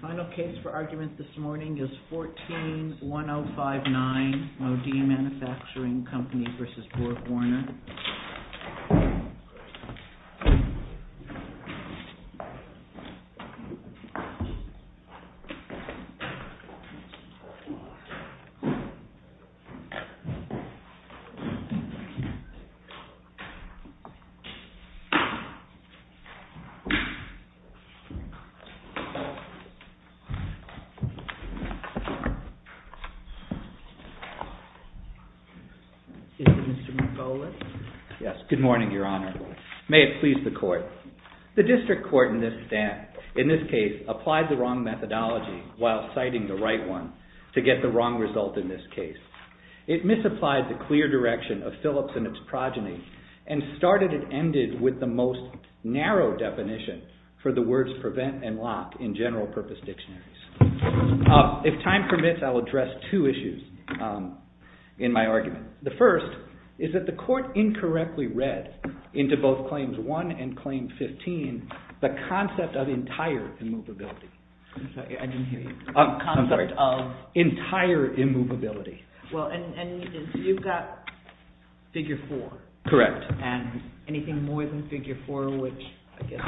Final case for argument this morning is 14-1059 Modine Manufacturing Company v. BorgWarner. The District Court in this case applied the wrong methodology while citing the right one to get the wrong result in this case. It misapplied the clear direction of Phillips and its progeny and started and ended with the most narrow definition for the words prevent and lock in general purpose dictionaries. If time permits, I will address two issues in my argument. The first is that the court incorrectly read into both Claims 1 and Claim 15 the concept of entire immovability. Well, and you've got Figure 4. Correct. And anything more than Figure 4, which I guess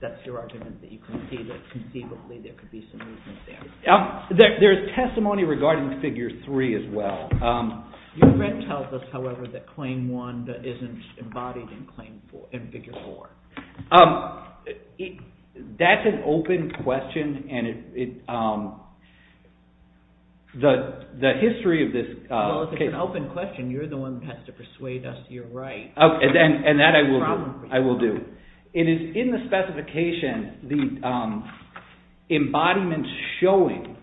that's your argument that you can see that conceivably there could be some movement there. There's testimony regarding Figure 3 as well. Your read tells us, however, that Claim 1 isn't the history of this case. Well, if it's an open question, you're the one that has to persuade us you're right. And that I will do. It is in the specification, the embodiment showing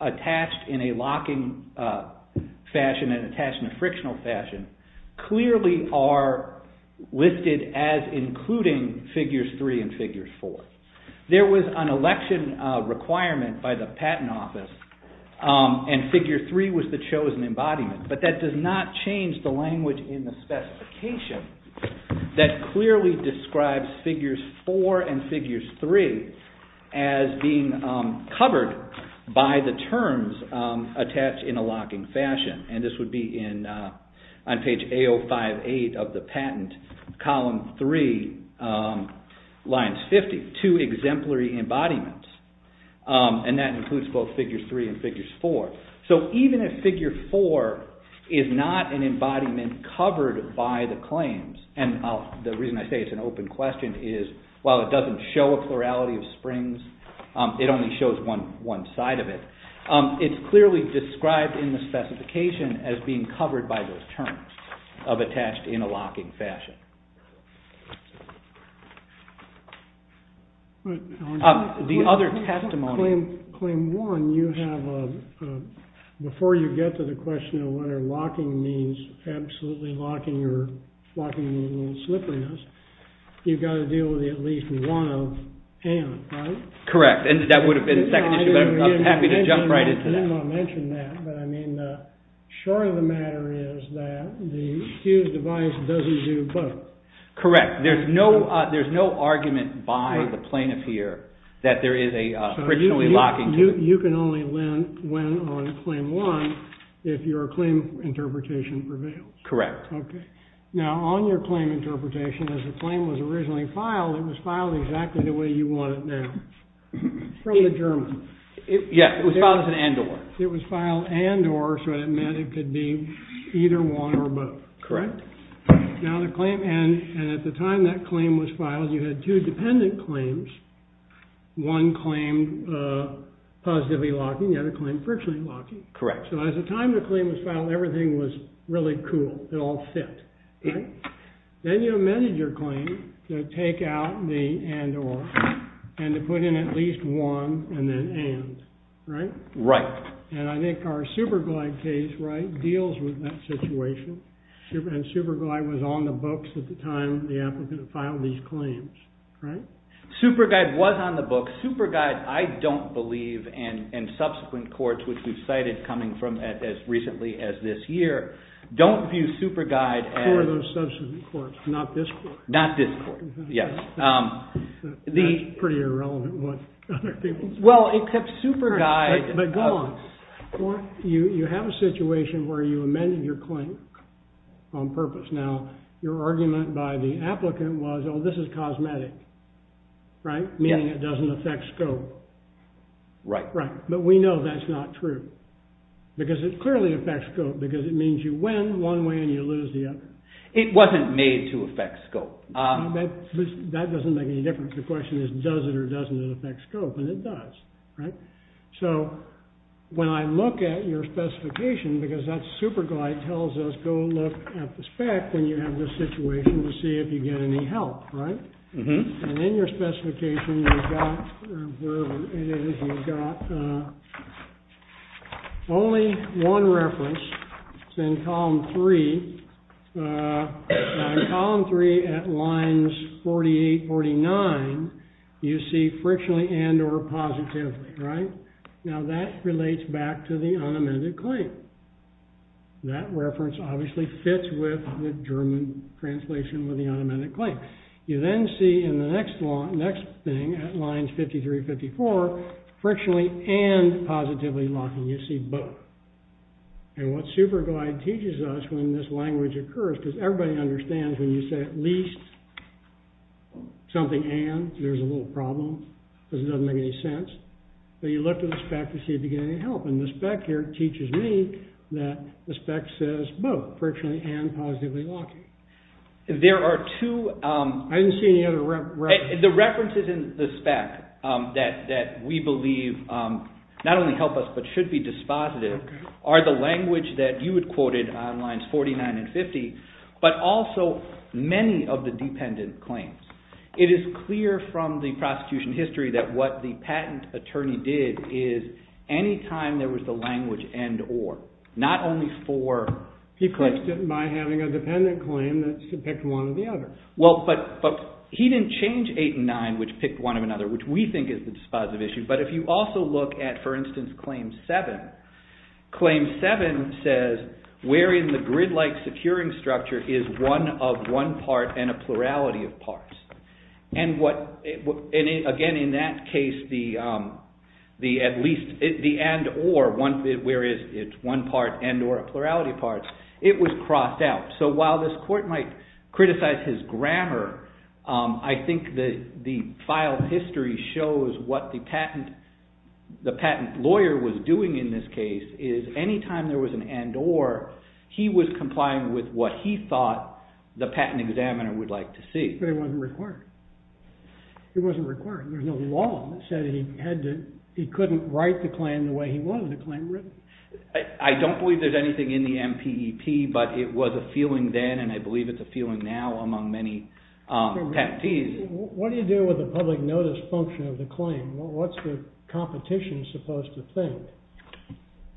attached in a locking fashion and attached in a frictional fashion clearly are listed as including Figures 3 and Figures 4. There was an election requirement by the Patent Office and Figure 3 was the chosen embodiment. But that does not change the language in the specification that clearly describes Figures 4 and Figures 3 as being covered by the terms attached in a locking fashion. And this lines 52 exemplary embodiments and that includes both Figures 3 and Figures 4. So even if Figure 4 is not an embodiment covered by the claims, and the reason I say it's an open question is while it doesn't show a plurality of springs, it only shows one side of it, it's clearly described in the other testimonial. Before you get to the question of whether locking means absolutely locking or locking means a little slipperiness, you've got to deal with at least one of and, right? Correct. And that would have been a second issue, but I'm happy to jump right into that. I didn't want to mention that, but I mean the short of the matter is that the Hughes device doesn't do both. Correct. There's no argument by the plaintiff here that there is a originally locking. You can only win on claim one if your claim interpretation prevails. Correct. Okay. Now on your claim interpretation, as the claim was originally filed, it was filed exactly the way you want it now. From the German. Yes, it was filed as an and-or. It was filed and-or, so it meant it could be either one or both. Correct. Now the claim, and at the time that claim was filed, you had two dependent claims. One claimed positively locking, the other claimed frictionally locking. Correct. So at the time the claim was filed, everything was really cool. It all fit. Then you amended your claim to take out the and-or and to put in at least one and then and, right? Right. And I think our Superguide case deals with that situation, and Superguide was on the books at the time the applicant filed these claims, right? Superguide was on the books. Superguide, I don't believe, and subsequent courts, which we've cited coming from as recently as this year, don't view Superguide as... For those subsequent courts, not this court. Not this court, yes. That's pretty irrelevant what other people say. Well, except Superguide... But go on. You have a situation where you amended your claim on purpose. Now, your argument by the applicant was, oh, this is cosmetic, right? Meaning it doesn't affect scope. Right. Right. But we know that's not true, because it clearly affects scope, because it means you win one way and you lose the other. It wasn't made to affect scope. That doesn't make any difference. The question is, does it or doesn't it affect scope? And it does, right? So, when I look at your specification, because that Superguide tells us, go look at the spec when you have this situation to see if you get any help, right? And in your specification, you've got... Or wherever it is, you've got only one reference. It's in Column 3. Now, in Column 3, at lines 48, 49, you see frictionally and or positively, right? Now, that relates back to the unamended claim. That reference obviously fits with the German translation of the unamended claim. You then see in the next thing, at lines 53, 54, frictionally and positively locking. You see both. And what Superguide teaches us when this language occurs, because everybody understands when you say at least something and, there's a little problem, because it doesn't make any sense. But you look at the spec to see if you get any help. And the spec here teaches me that the spec says both, frictionally and positively locking. There are two... I didn't see any other references. The references in the spec that we believe not only help us but should be dispositive are the language that you had quoted on lines 49 and 50, but also many of the dependent claims. It is clear from the prosecution history that what the patent attorney did is anytime there was the language and or, not only for... He fixed it by having a dependent claim that picked one or the other. Well, but he didn't change 8 and 9, which picked one or another, which we think is the dispositive issue. But if you also look at, for instance, claim 7, claim 7 says wherein the grid-like securing structure is one of one part and a plurality of parts. And again, in that case, the and or, where it's one part and or a plurality of parts, it was crossed out. So while this court might criticize his grammar, I think the file history shows what the patent lawyer was doing in this case is anytime there was an and or, he was complying with what he thought the patent examiner would like to see. But it wasn't required. It wasn't required. There's no law that said he couldn't write the claim the way he wanted the claim written. I don't believe there's anything in the MPEP, but it was a feeling then, and I believe it's a feeling now among many patentees. What do you do with the public notice function of the claim? What's the competition supposed to think?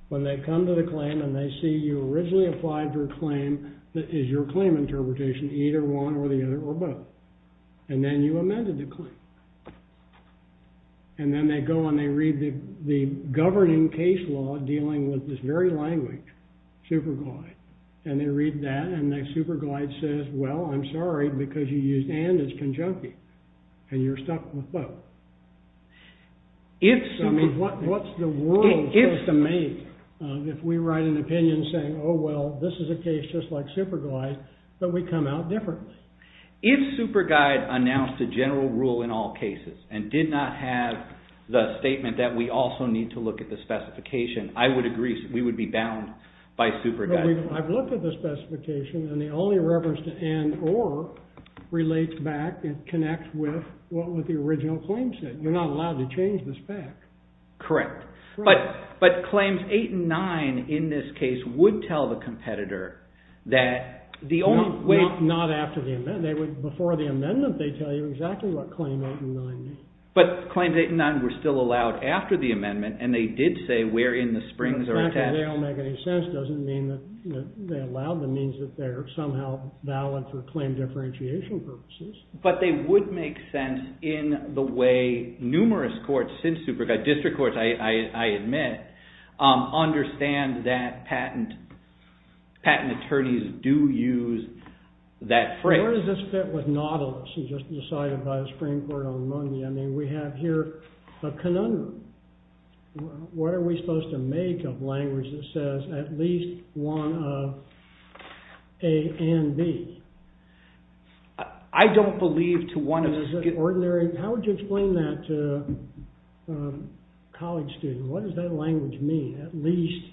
When they come to the claim and they see you originally applied for a claim, is your claim interpretation either one or the other or both? And then you amended the claim. And then they go and they read the governing case law dealing with this very language, superglide. And they read that, and the superglide says, well, I'm sorry, because you used and as conjunctive, and you're stuck with both. I mean, what's the world supposed to make if we write an opinion saying, oh, well, this is a case just like superglide, but we come out differently? If superglide announced a general rule in all cases and did not have the statement that we also need to look at the specification, I would agree we would be bound by superglide. I've looked at the specification, and the only reference to and or relates back and connects with what the original claim said. You're not allowed to change the spec. Correct. But claims 8 and 9 in this case would tell the competitor that the only way. Not after the amendment. Before the amendment, they tell you exactly what claim 8 and 9 mean. But claims 8 and 9 were still allowed after the amendment, and they did say where in the springs are attached. Exactly. They don't make any sense. It doesn't mean that they allowed them. It means that they're somehow valid for claim differentiation purposes. But they would make sense in the way numerous courts since superglide, district courts, I admit, understand that patent attorneys do use that phrase. Where does this fit with Nautilus, who just decided by the Supreme Court on Monday? I mean, we have here a conundrum. What are we supposed to make of language that says at least one of A and B? I don't believe to one of... How would you explain that to a college student? What does that language mean, at least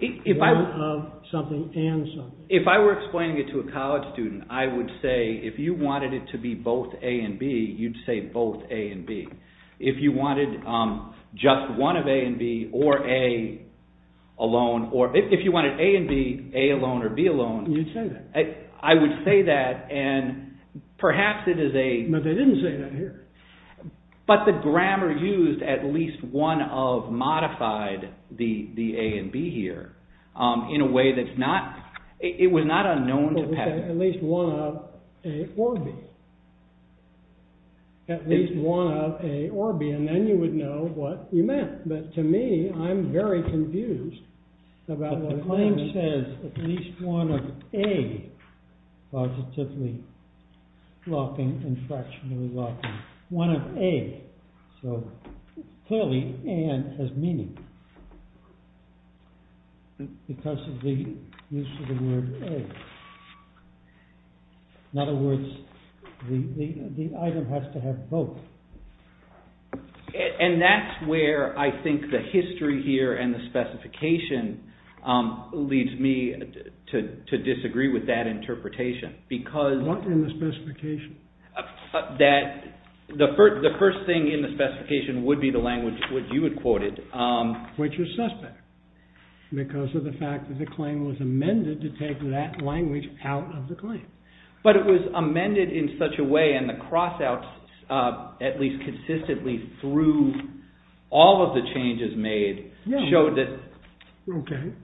one of something and something? If I were explaining it to a college student, I would say if you wanted it to be both A and B, you'd say both A and B. If you wanted just one of A and B or A alone, or if you wanted A and B, A alone or B alone... You'd say that. I would say that, and perhaps it is a... But they didn't say that here. But the grammar used at least one of modified the A and B here in a way that's not... It was not unknown to Pat. At least one of A or B. At least one of A or B, and then you would know what you meant. But to me, I'm very confused about what... The claim says at least one of A positively locking and fractionally locking. One of A. So, clearly, A has meaning because of the use of the word A. In other words, the item has to have both. And that's where I think the history here and the specification leads me to disagree with that interpretation, because... What in the specification? That the first thing in the specification would be the language which you had quoted. Which is suspect, because of the fact that the claim was amended to take that language out of the claim. But it was amended in such a way, and the cross-outs, at least consistently through all of the changes made, showed that... Okay.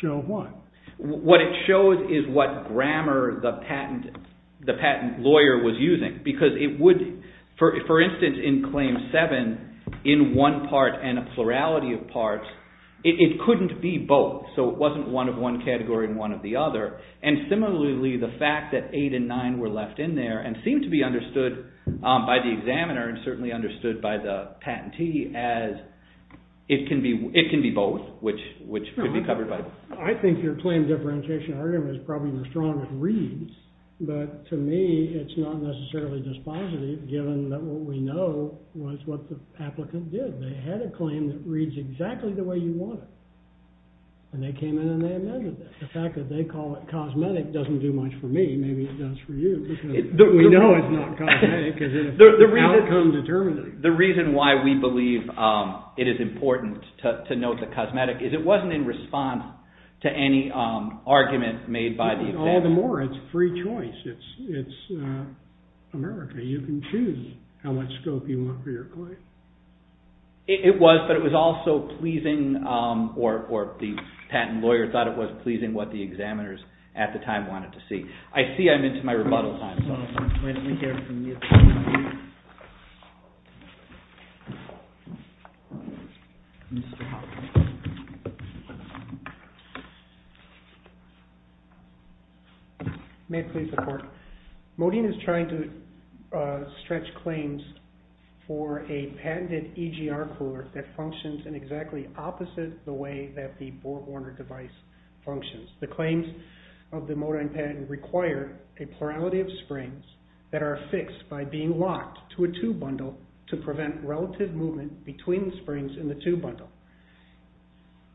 Show what? What it shows is what grammar the patent lawyer was using, because it would... For instance, in Claim 7, in one part and a plurality of parts, it couldn't be both. So it wasn't one of one category and one of the other. And similarly, the fact that 8 and 9 were left in there, and seemed to be understood by the examiner, and certainly understood by the patentee, as... It can be both, which could be covered by... I think your claim differentiation argument is probably the strongest reads. But to me, it's not necessarily dispositive, given that what we know was what the applicant did. They had a claim that reads exactly the way you want it. And they came in and they amended it. The fact that they call it cosmetic doesn't do much for me. Maybe it does for you, because... We know it's not cosmetic, because it affects the outcome determinately. The reason why we believe it is important to note the cosmetic is it wasn't in response to any argument made by the examiner. All the more, it's free choice. It's America. You can choose how much scope you want for your claim. It was, but it was also pleasing, or the patent lawyer thought it was pleasing, what the examiners at the time wanted to see. I see I'm into my rebuttal time, so... May I please report? Modine is trying to stretch claims for a patented EGR cooler that functions in exactly opposite the way that the Bohr-Warner device functions. The claims of the Modine patent require a plurality of springs that are fixed by being locked to a tube bundle to prevent relative movement between springs in the tube bundle.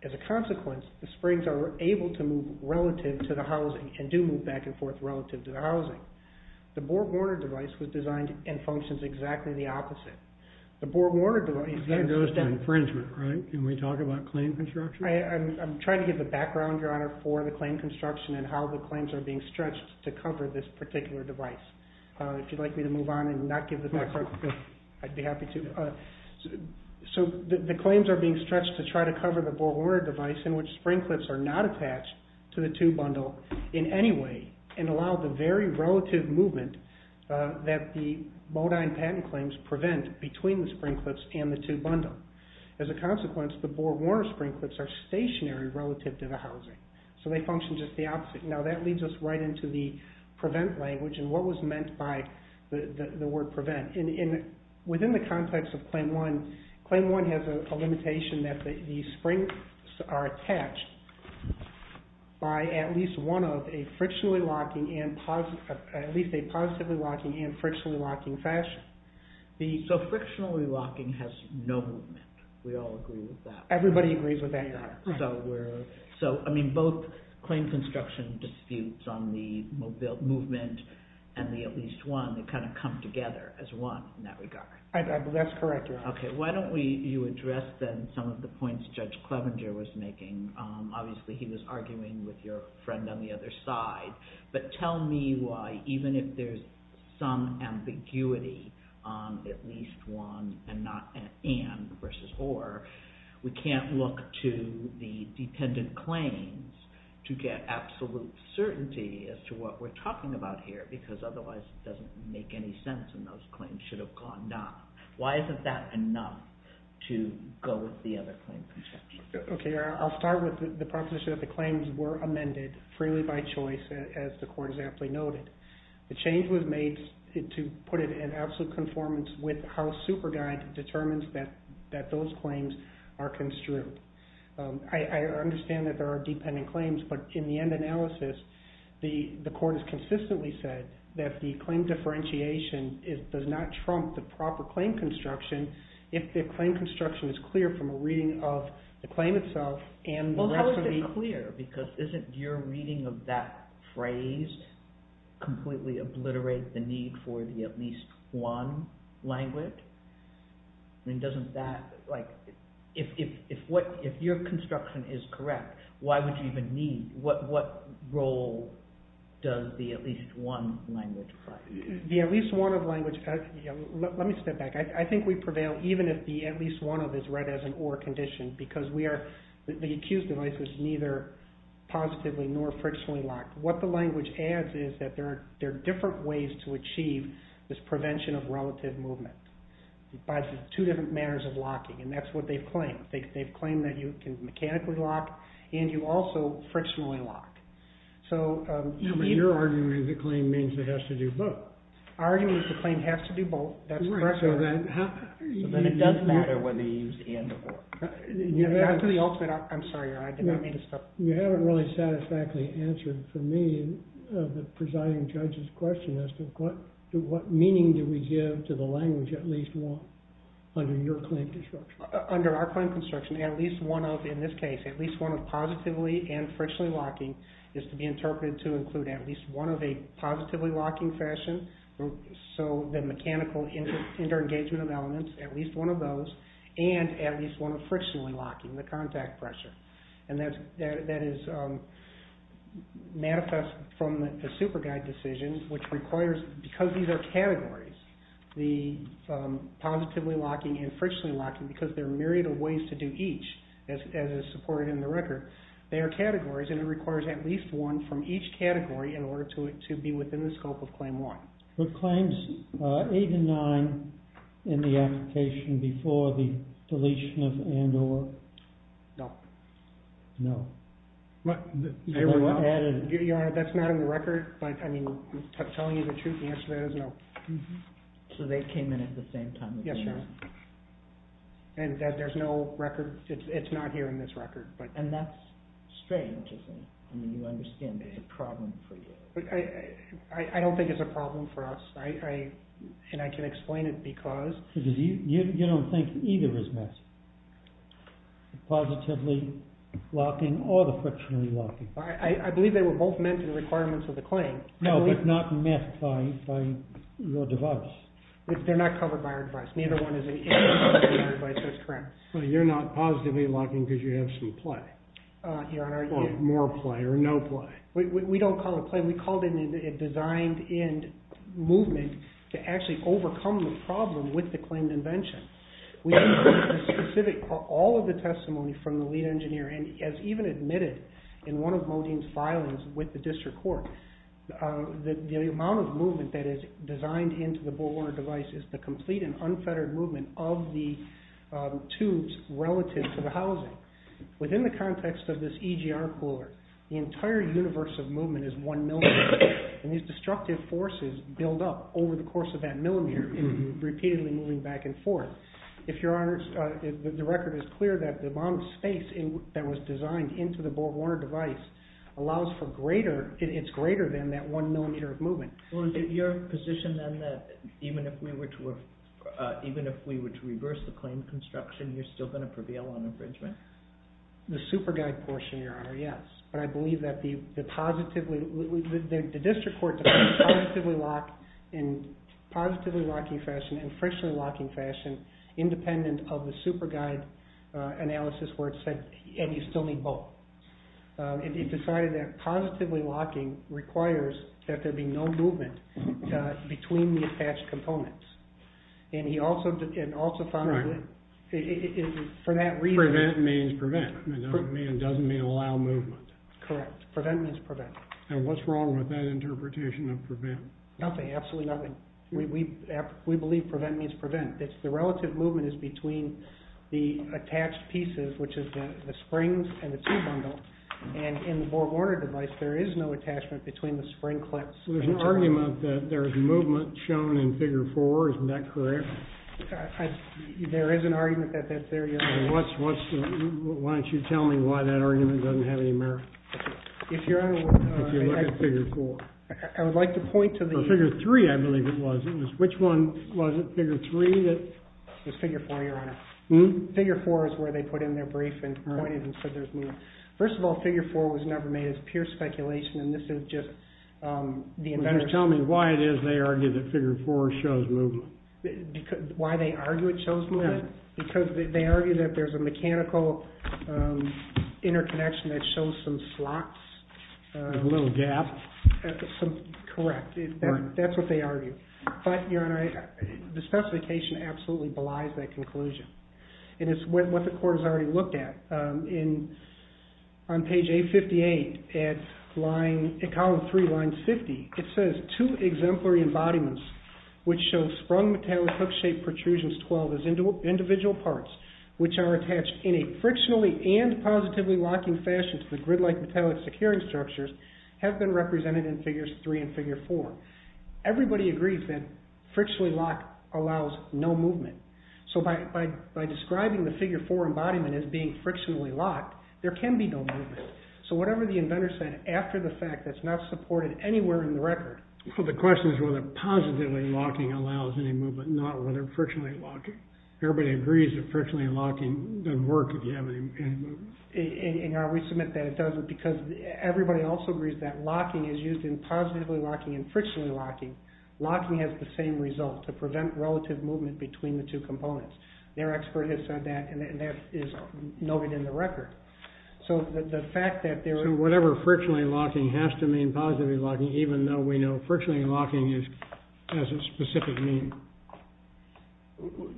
As a consequence, the springs are able to move relative to the housing and do move back and forth relative to the housing. The Bohr-Warner device was designed and functions exactly the opposite. The Bohr-Warner device... That goes to infringement, right? Can we talk about claim construction? I'm trying to give the background, Your Honor, for the claim construction and how the claims are being stretched to cover this particular device. If you'd like me to move on and not give the background, I'd be happy to. So the claims are being stretched to try to cover the Bohr-Warner device in which spring clips are not attached to the tube bundle in any way and allow the very relative movement that the Modine patent claims prevent between the spring clips and the tube bundle. As a consequence, the Bohr-Warner spring clips are stationary relative to the housing, so they function just the opposite. Now, that leads us right into the prevent language and what was meant by the word prevent. Within the context of Claim 1, Claim 1 has a limitation that the springs are attached by at least one of a frictionally locking and... at least a positively locking and frictionally locking fashion. So frictionally locking has no movement. We all agree with that. Everybody agrees with that, Your Honor. So, I mean, both claim construction disputes on the movement and the at least one, they kind of come together as one in that regard. That's correct, Your Honor. Okay, why don't you address then some of the points Judge Clevenger was making. Obviously, he was arguing with your friend on the other side. But tell me why, even if there's some ambiguity on at least one and not an and versus or, we can't look to the dependent claims to get absolute certainty as to what we're talking about here because otherwise it doesn't make any sense and those claims should have gone not. Why isn't that enough to go with the other claim construction? Okay, I'll start with the proposition that the claims were amended freely by choice as the court exactly noted. The change was made to put it in absolute conformance with how SuperGuide determines that those claims are construed. I understand that there are dependent claims, but in the end analysis, the court has consistently said that the claim differentiation does not trump the proper claim construction if the claim construction is clear from a reading of the claim itself. Well, how is it clear because isn't your reading of that phrase completely obliterate the need for the at least one language? If your construction is correct, what role does the at least one language play? The at least one of language, let me step back. I think we prevail even if the at least one of is read as an or condition because the accused device was neither positively nor frictionally locked. What the language adds is that there are different ways to achieve this prevention of relative movement by two different manners of locking and that's what they've claimed. They've claimed that you can mechanically lock and you also frictionally lock. Your argument is the claim means it has to do both. Our argument is the claim has to do both. That's correct. Then it doesn't matter whether you use and or. To the ultimate, I'm sorry. You haven't really satisfactorily answered for me the presiding judge's question as to what meaning do we give to the language at least one under your claim construction. Under our claim construction, at least one of, in this case, at least one of positively and frictionally locking is to be interpreted to include at least one of a positively locking fashion. The mechanical inter-engagement of elements, at least one of those, and at least one of frictionally locking, the contact pressure. That is manifest from the super guide decision which requires, because these are categories, the positively locking and frictionally locking because there are myriad of ways to do each as is supported in the record. They are categories and it requires at least one from each category in order to be within the scope of claim one. Were claims eight and nine in the application before the deletion of and or? No. No. Your Honor, that's not in the record. I'm telling you the truth. The answer to that is no. So they came in at the same time? Yes, Your Honor. And there's no record? It's not here in this record. And that's strange, isn't it? I mean, you understand it's a problem for you. I don't think it's a problem for us. And I can explain it because... Because you don't think either is messed. The positively locking or the frictionally locking. I believe they were both meant in the requirements of the claim. No, but not messed by your device. They're not covered by our device. Neither one is in our device, that's correct. So you're not positively locking because you have some play? Your Honor, are you? Or more play or no play? We don't call it play. We call it a designed-in movement to actually overcome the problem with the claimed invention. All of the testimony from the lead engineer, and as even admitted in one of Modine's filings with the district court, the amount of movement that is designed into the Bullhorn device is the complete and unfettered movement of the tubes relative to the housing. Within the context of this EGR cooler, the entire universe of movement is one millimeter. And these destructive forces build up over the course of that millimeter, repeatedly moving back and forth. If Your Honor, the record is clear that the amount of space that was designed into the Bullhorn device allows for greater, it's greater than that one millimeter of movement. Well, is it your position then that even if we were to reverse the claim construction, you're still going to prevail on infringement? The super guide portion, Your Honor, yes. But I believe that the positively, the district court defined positively lock in positively locking fashion and friction locking fashion independent of the super guide analysis where it said, and you still need both. It decided that positively locking requires that there be no movement between the attached components. And he also found that for that reason. Prevent means prevent. It doesn't mean allow movement. Correct. Prevent means prevent. And what's wrong with that interpretation of prevent? Nothing, absolutely nothing. We believe prevent means prevent. It's the relative movement is between the attached pieces, which is the springs and the two bundle. And in the Bullhorn device, there is no attachment between the spring clips. There's an argument that there's movement shown in figure four. Isn't that correct? There is an argument that that's there. Why don't you tell me why that argument doesn't have any merit? If Your Honor would. If you look at figure four. I would like to point to the. Figure three, I believe it was. Which one was it? Figure three that. It was figure four, Your Honor. Figure four is where they put in their brief and pointed and said there's movement. First of all, figure four was never made as pure speculation. And this is just the inventors. Tell me why it is they argue that figure four shows movement. Why they argue it shows movement? Because they argue that there's a mechanical interconnection that shows some slots. A little gap. Correct. That's what they argue. But Your Honor, the specification absolutely belies that conclusion. And it's what the court has already looked at. On page 858, at column three, line 50, it says, Two exemplary embodiments which show sprung metallic hook-shaped protrusions 12 as individual parts, which are attached in a frictionally and positively locking fashion to the grid-like metallic securing structures, have been represented in figures three and figure four. Everybody agrees that frictionally locked allows no movement. So by describing the figure four embodiment as being frictionally locked, there can be no movement. So whatever the inventor said, after the fact, that's not supported anywhere in the record. So the question is whether positively locking allows any movement, not whether frictionally locking. Everybody agrees that frictionally locking doesn't work if you have any movement. And we submit that it doesn't, because everybody also agrees that locking is used in positively locking and frictionally locking. Locking has the same result, to prevent relative movement between the two components. Their expert has said that, and that is noted in the record. So the fact that there... So whatever frictionally locking has to mean positively locking, even though we know frictionally locking has a specific meaning.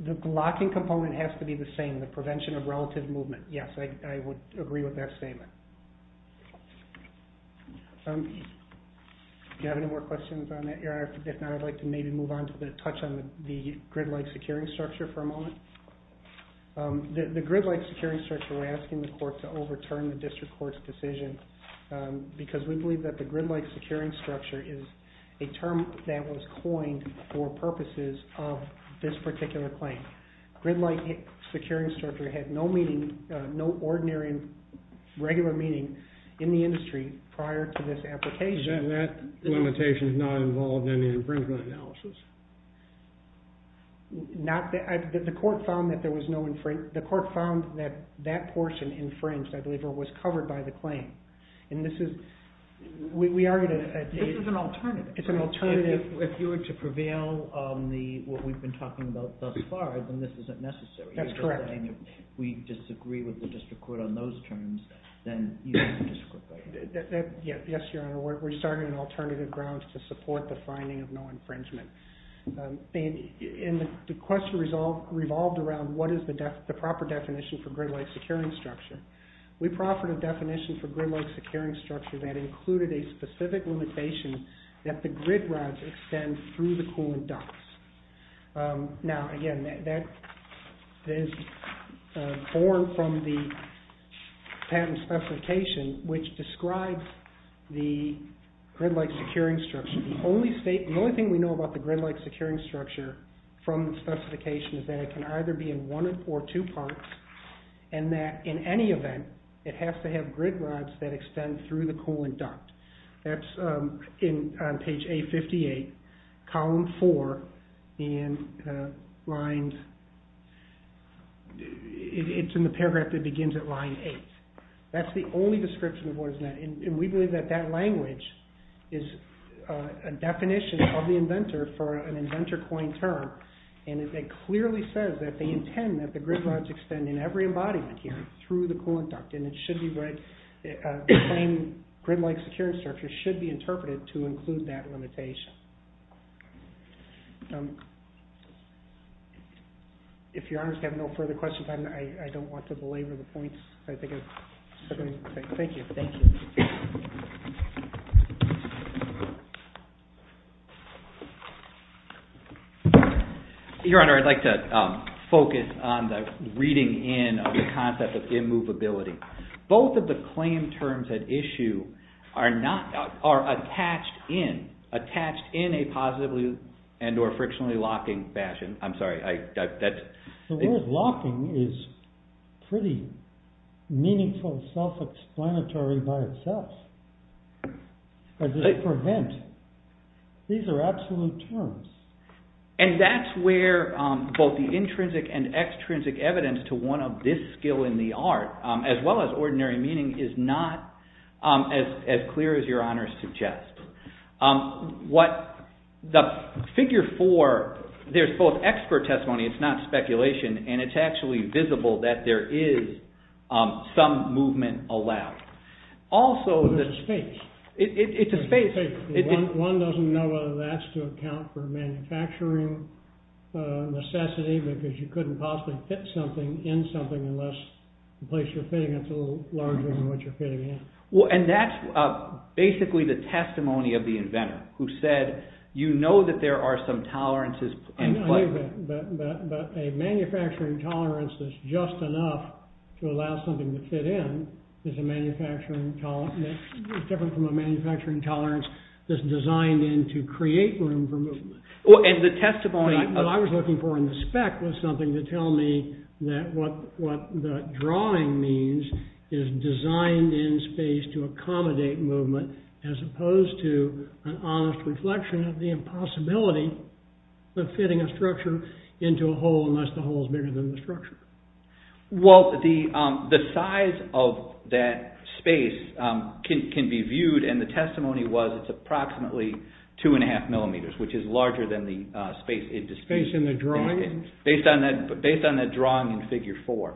The locking component has to be the same, the prevention of relative movement. Yes, I would agree with that statement. Do you have any more questions on that? If not, I'd like to maybe move on to the touch on the grid-like securing structure for a moment. The grid-like securing structure, we're asking the court to overturn the district court's decision, because we believe that the grid-like securing structure is a term that was coined for purposes of this particular claim. Grid-like securing structure had no meaning, no ordinary, regular meaning in the industry prior to this application. Then that limitation is not involved in the infringement analysis. The court found that that portion infringed, I believe, or was covered by the claim. And this is... This is an alternative. It's an alternative. If you were to prevail on what we've been talking about thus far, then this isn't necessary. That's correct. If we disagree with the district court on those terms, then you disagree. Yes, Your Honor, we're starting an alternative ground to support the finding of no infringement. And the question revolved around what is the proper definition for grid-like securing structure. We proffered a definition for grid-like securing structure that included a specific limitation that the grid rods extend through the coolant ducts. Now, again, that is born from the patent specification which describes the grid-like securing structure. The only thing we know about the grid-like securing structure from the specification is that it can either be in one or two parts and that in any event, it has to have grid rods that extend through the coolant duct. That's on page 858, column 4, and it's in the paragraph that begins at line 8. That's the only description of what is meant. And we believe that that language is a definition of the inventor for an inventor coined term. And it clearly says that they intend that the grid rods extend in every embodiment here through the coolant duct. And it should be right. The same grid-like securing structure should be interpreted to include that limitation. If your honors have no further questions, I don't want to belabor the points. Thank you. Thank you. Your honor, I'd like to focus on the reading in of the concept of immovability. Both of the claim terms at issue are attached in a positively and or frictionally locking fashion. I'm sorry. The word locking is pretty meaningful self-explanatory by itself. These are absolute terms. And that's where both the intrinsic and extrinsic evidence to one of this skill in the art, as well as ordinary meaning, is not as clear as your honors suggest. The figure four, there's both expert testimony. It's not speculation. And it's actually visible that there is some movement allowed. There's a space. It's a space. One doesn't know whether that's to account for manufacturing necessity because you couldn't possibly fit something in something unless the place you're fitting it's a little larger than what you're fitting in. And that's basically the testimony of the inventor who said you know that there are some tolerances. But a manufacturing tolerance that's just enough to allow something to fit in is a manufacturing tolerance. It's different from a manufacturing tolerance that's designed in to create room for movement. What I was looking for in the spec was something to tell me that what the drawing means is designed in space to accommodate movement as opposed to an honest reflection of the impossibility of fitting a structure into a hole unless the hole is bigger than the structure. Well, the size of that space can be viewed and the testimony was it's approximately two and a half millimeters which is larger than the space in the drawing. Based on that drawing in figure four.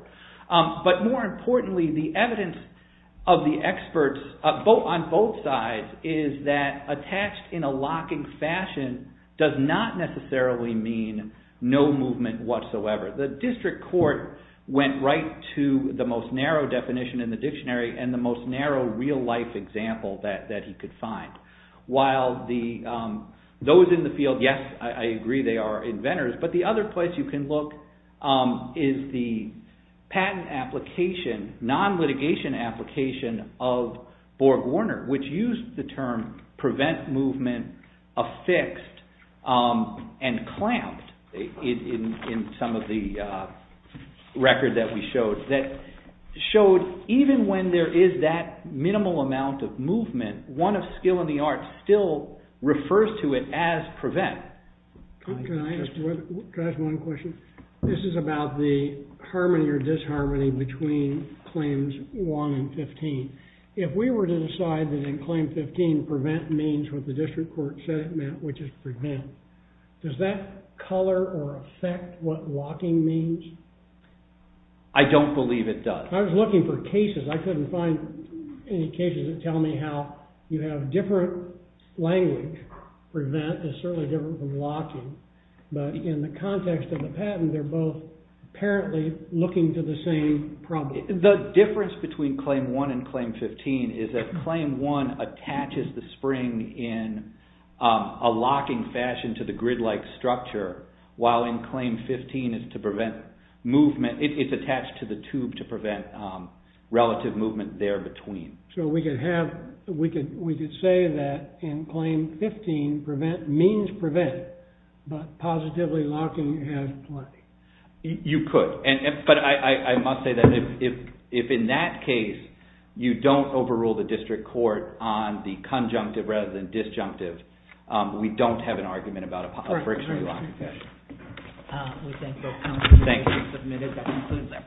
But more importantly the evidence of the experts on both sides is that attached in a locking fashion does not necessarily mean no movement whatsoever. The district court went right to the most narrow definition in the dictionary and the most narrow real life example that he could find. While those in the field, yes I agree they are inventors. But the other place you can look is the patent application, non-litigation application of Borg-Warner which used the term prevent movement affixed and clamped in some of the records that we showed. Even when there is that minimal amount of movement, one of skill in the art still refers to it as prevent. Can I ask one question? This is about the harmony or disharmony between claims one and fifteen. If we were to decide that in claim fifteen prevent means what the district court said it meant which is prevent. Does that color or affect what locking means? I don't believe it does. I was looking for cases, I couldn't find any cases that tell me how you have different language. Prevent is certainly different from locking. But in the context of the patent they are both apparently looking to the same problem. The difference between claim one and claim fifteen is that claim one attaches the spring in a locking fashion to the grid like structure. While in claim fifteen it is attached to the tube to prevent relative movement there between. So we could say that in claim fifteen means prevent but positively locking has play. You could. But I must say that if in that case you don't overrule the district court on the conjunctive rather than disjunctive, we don't have an argument about a friction lock. Thank you.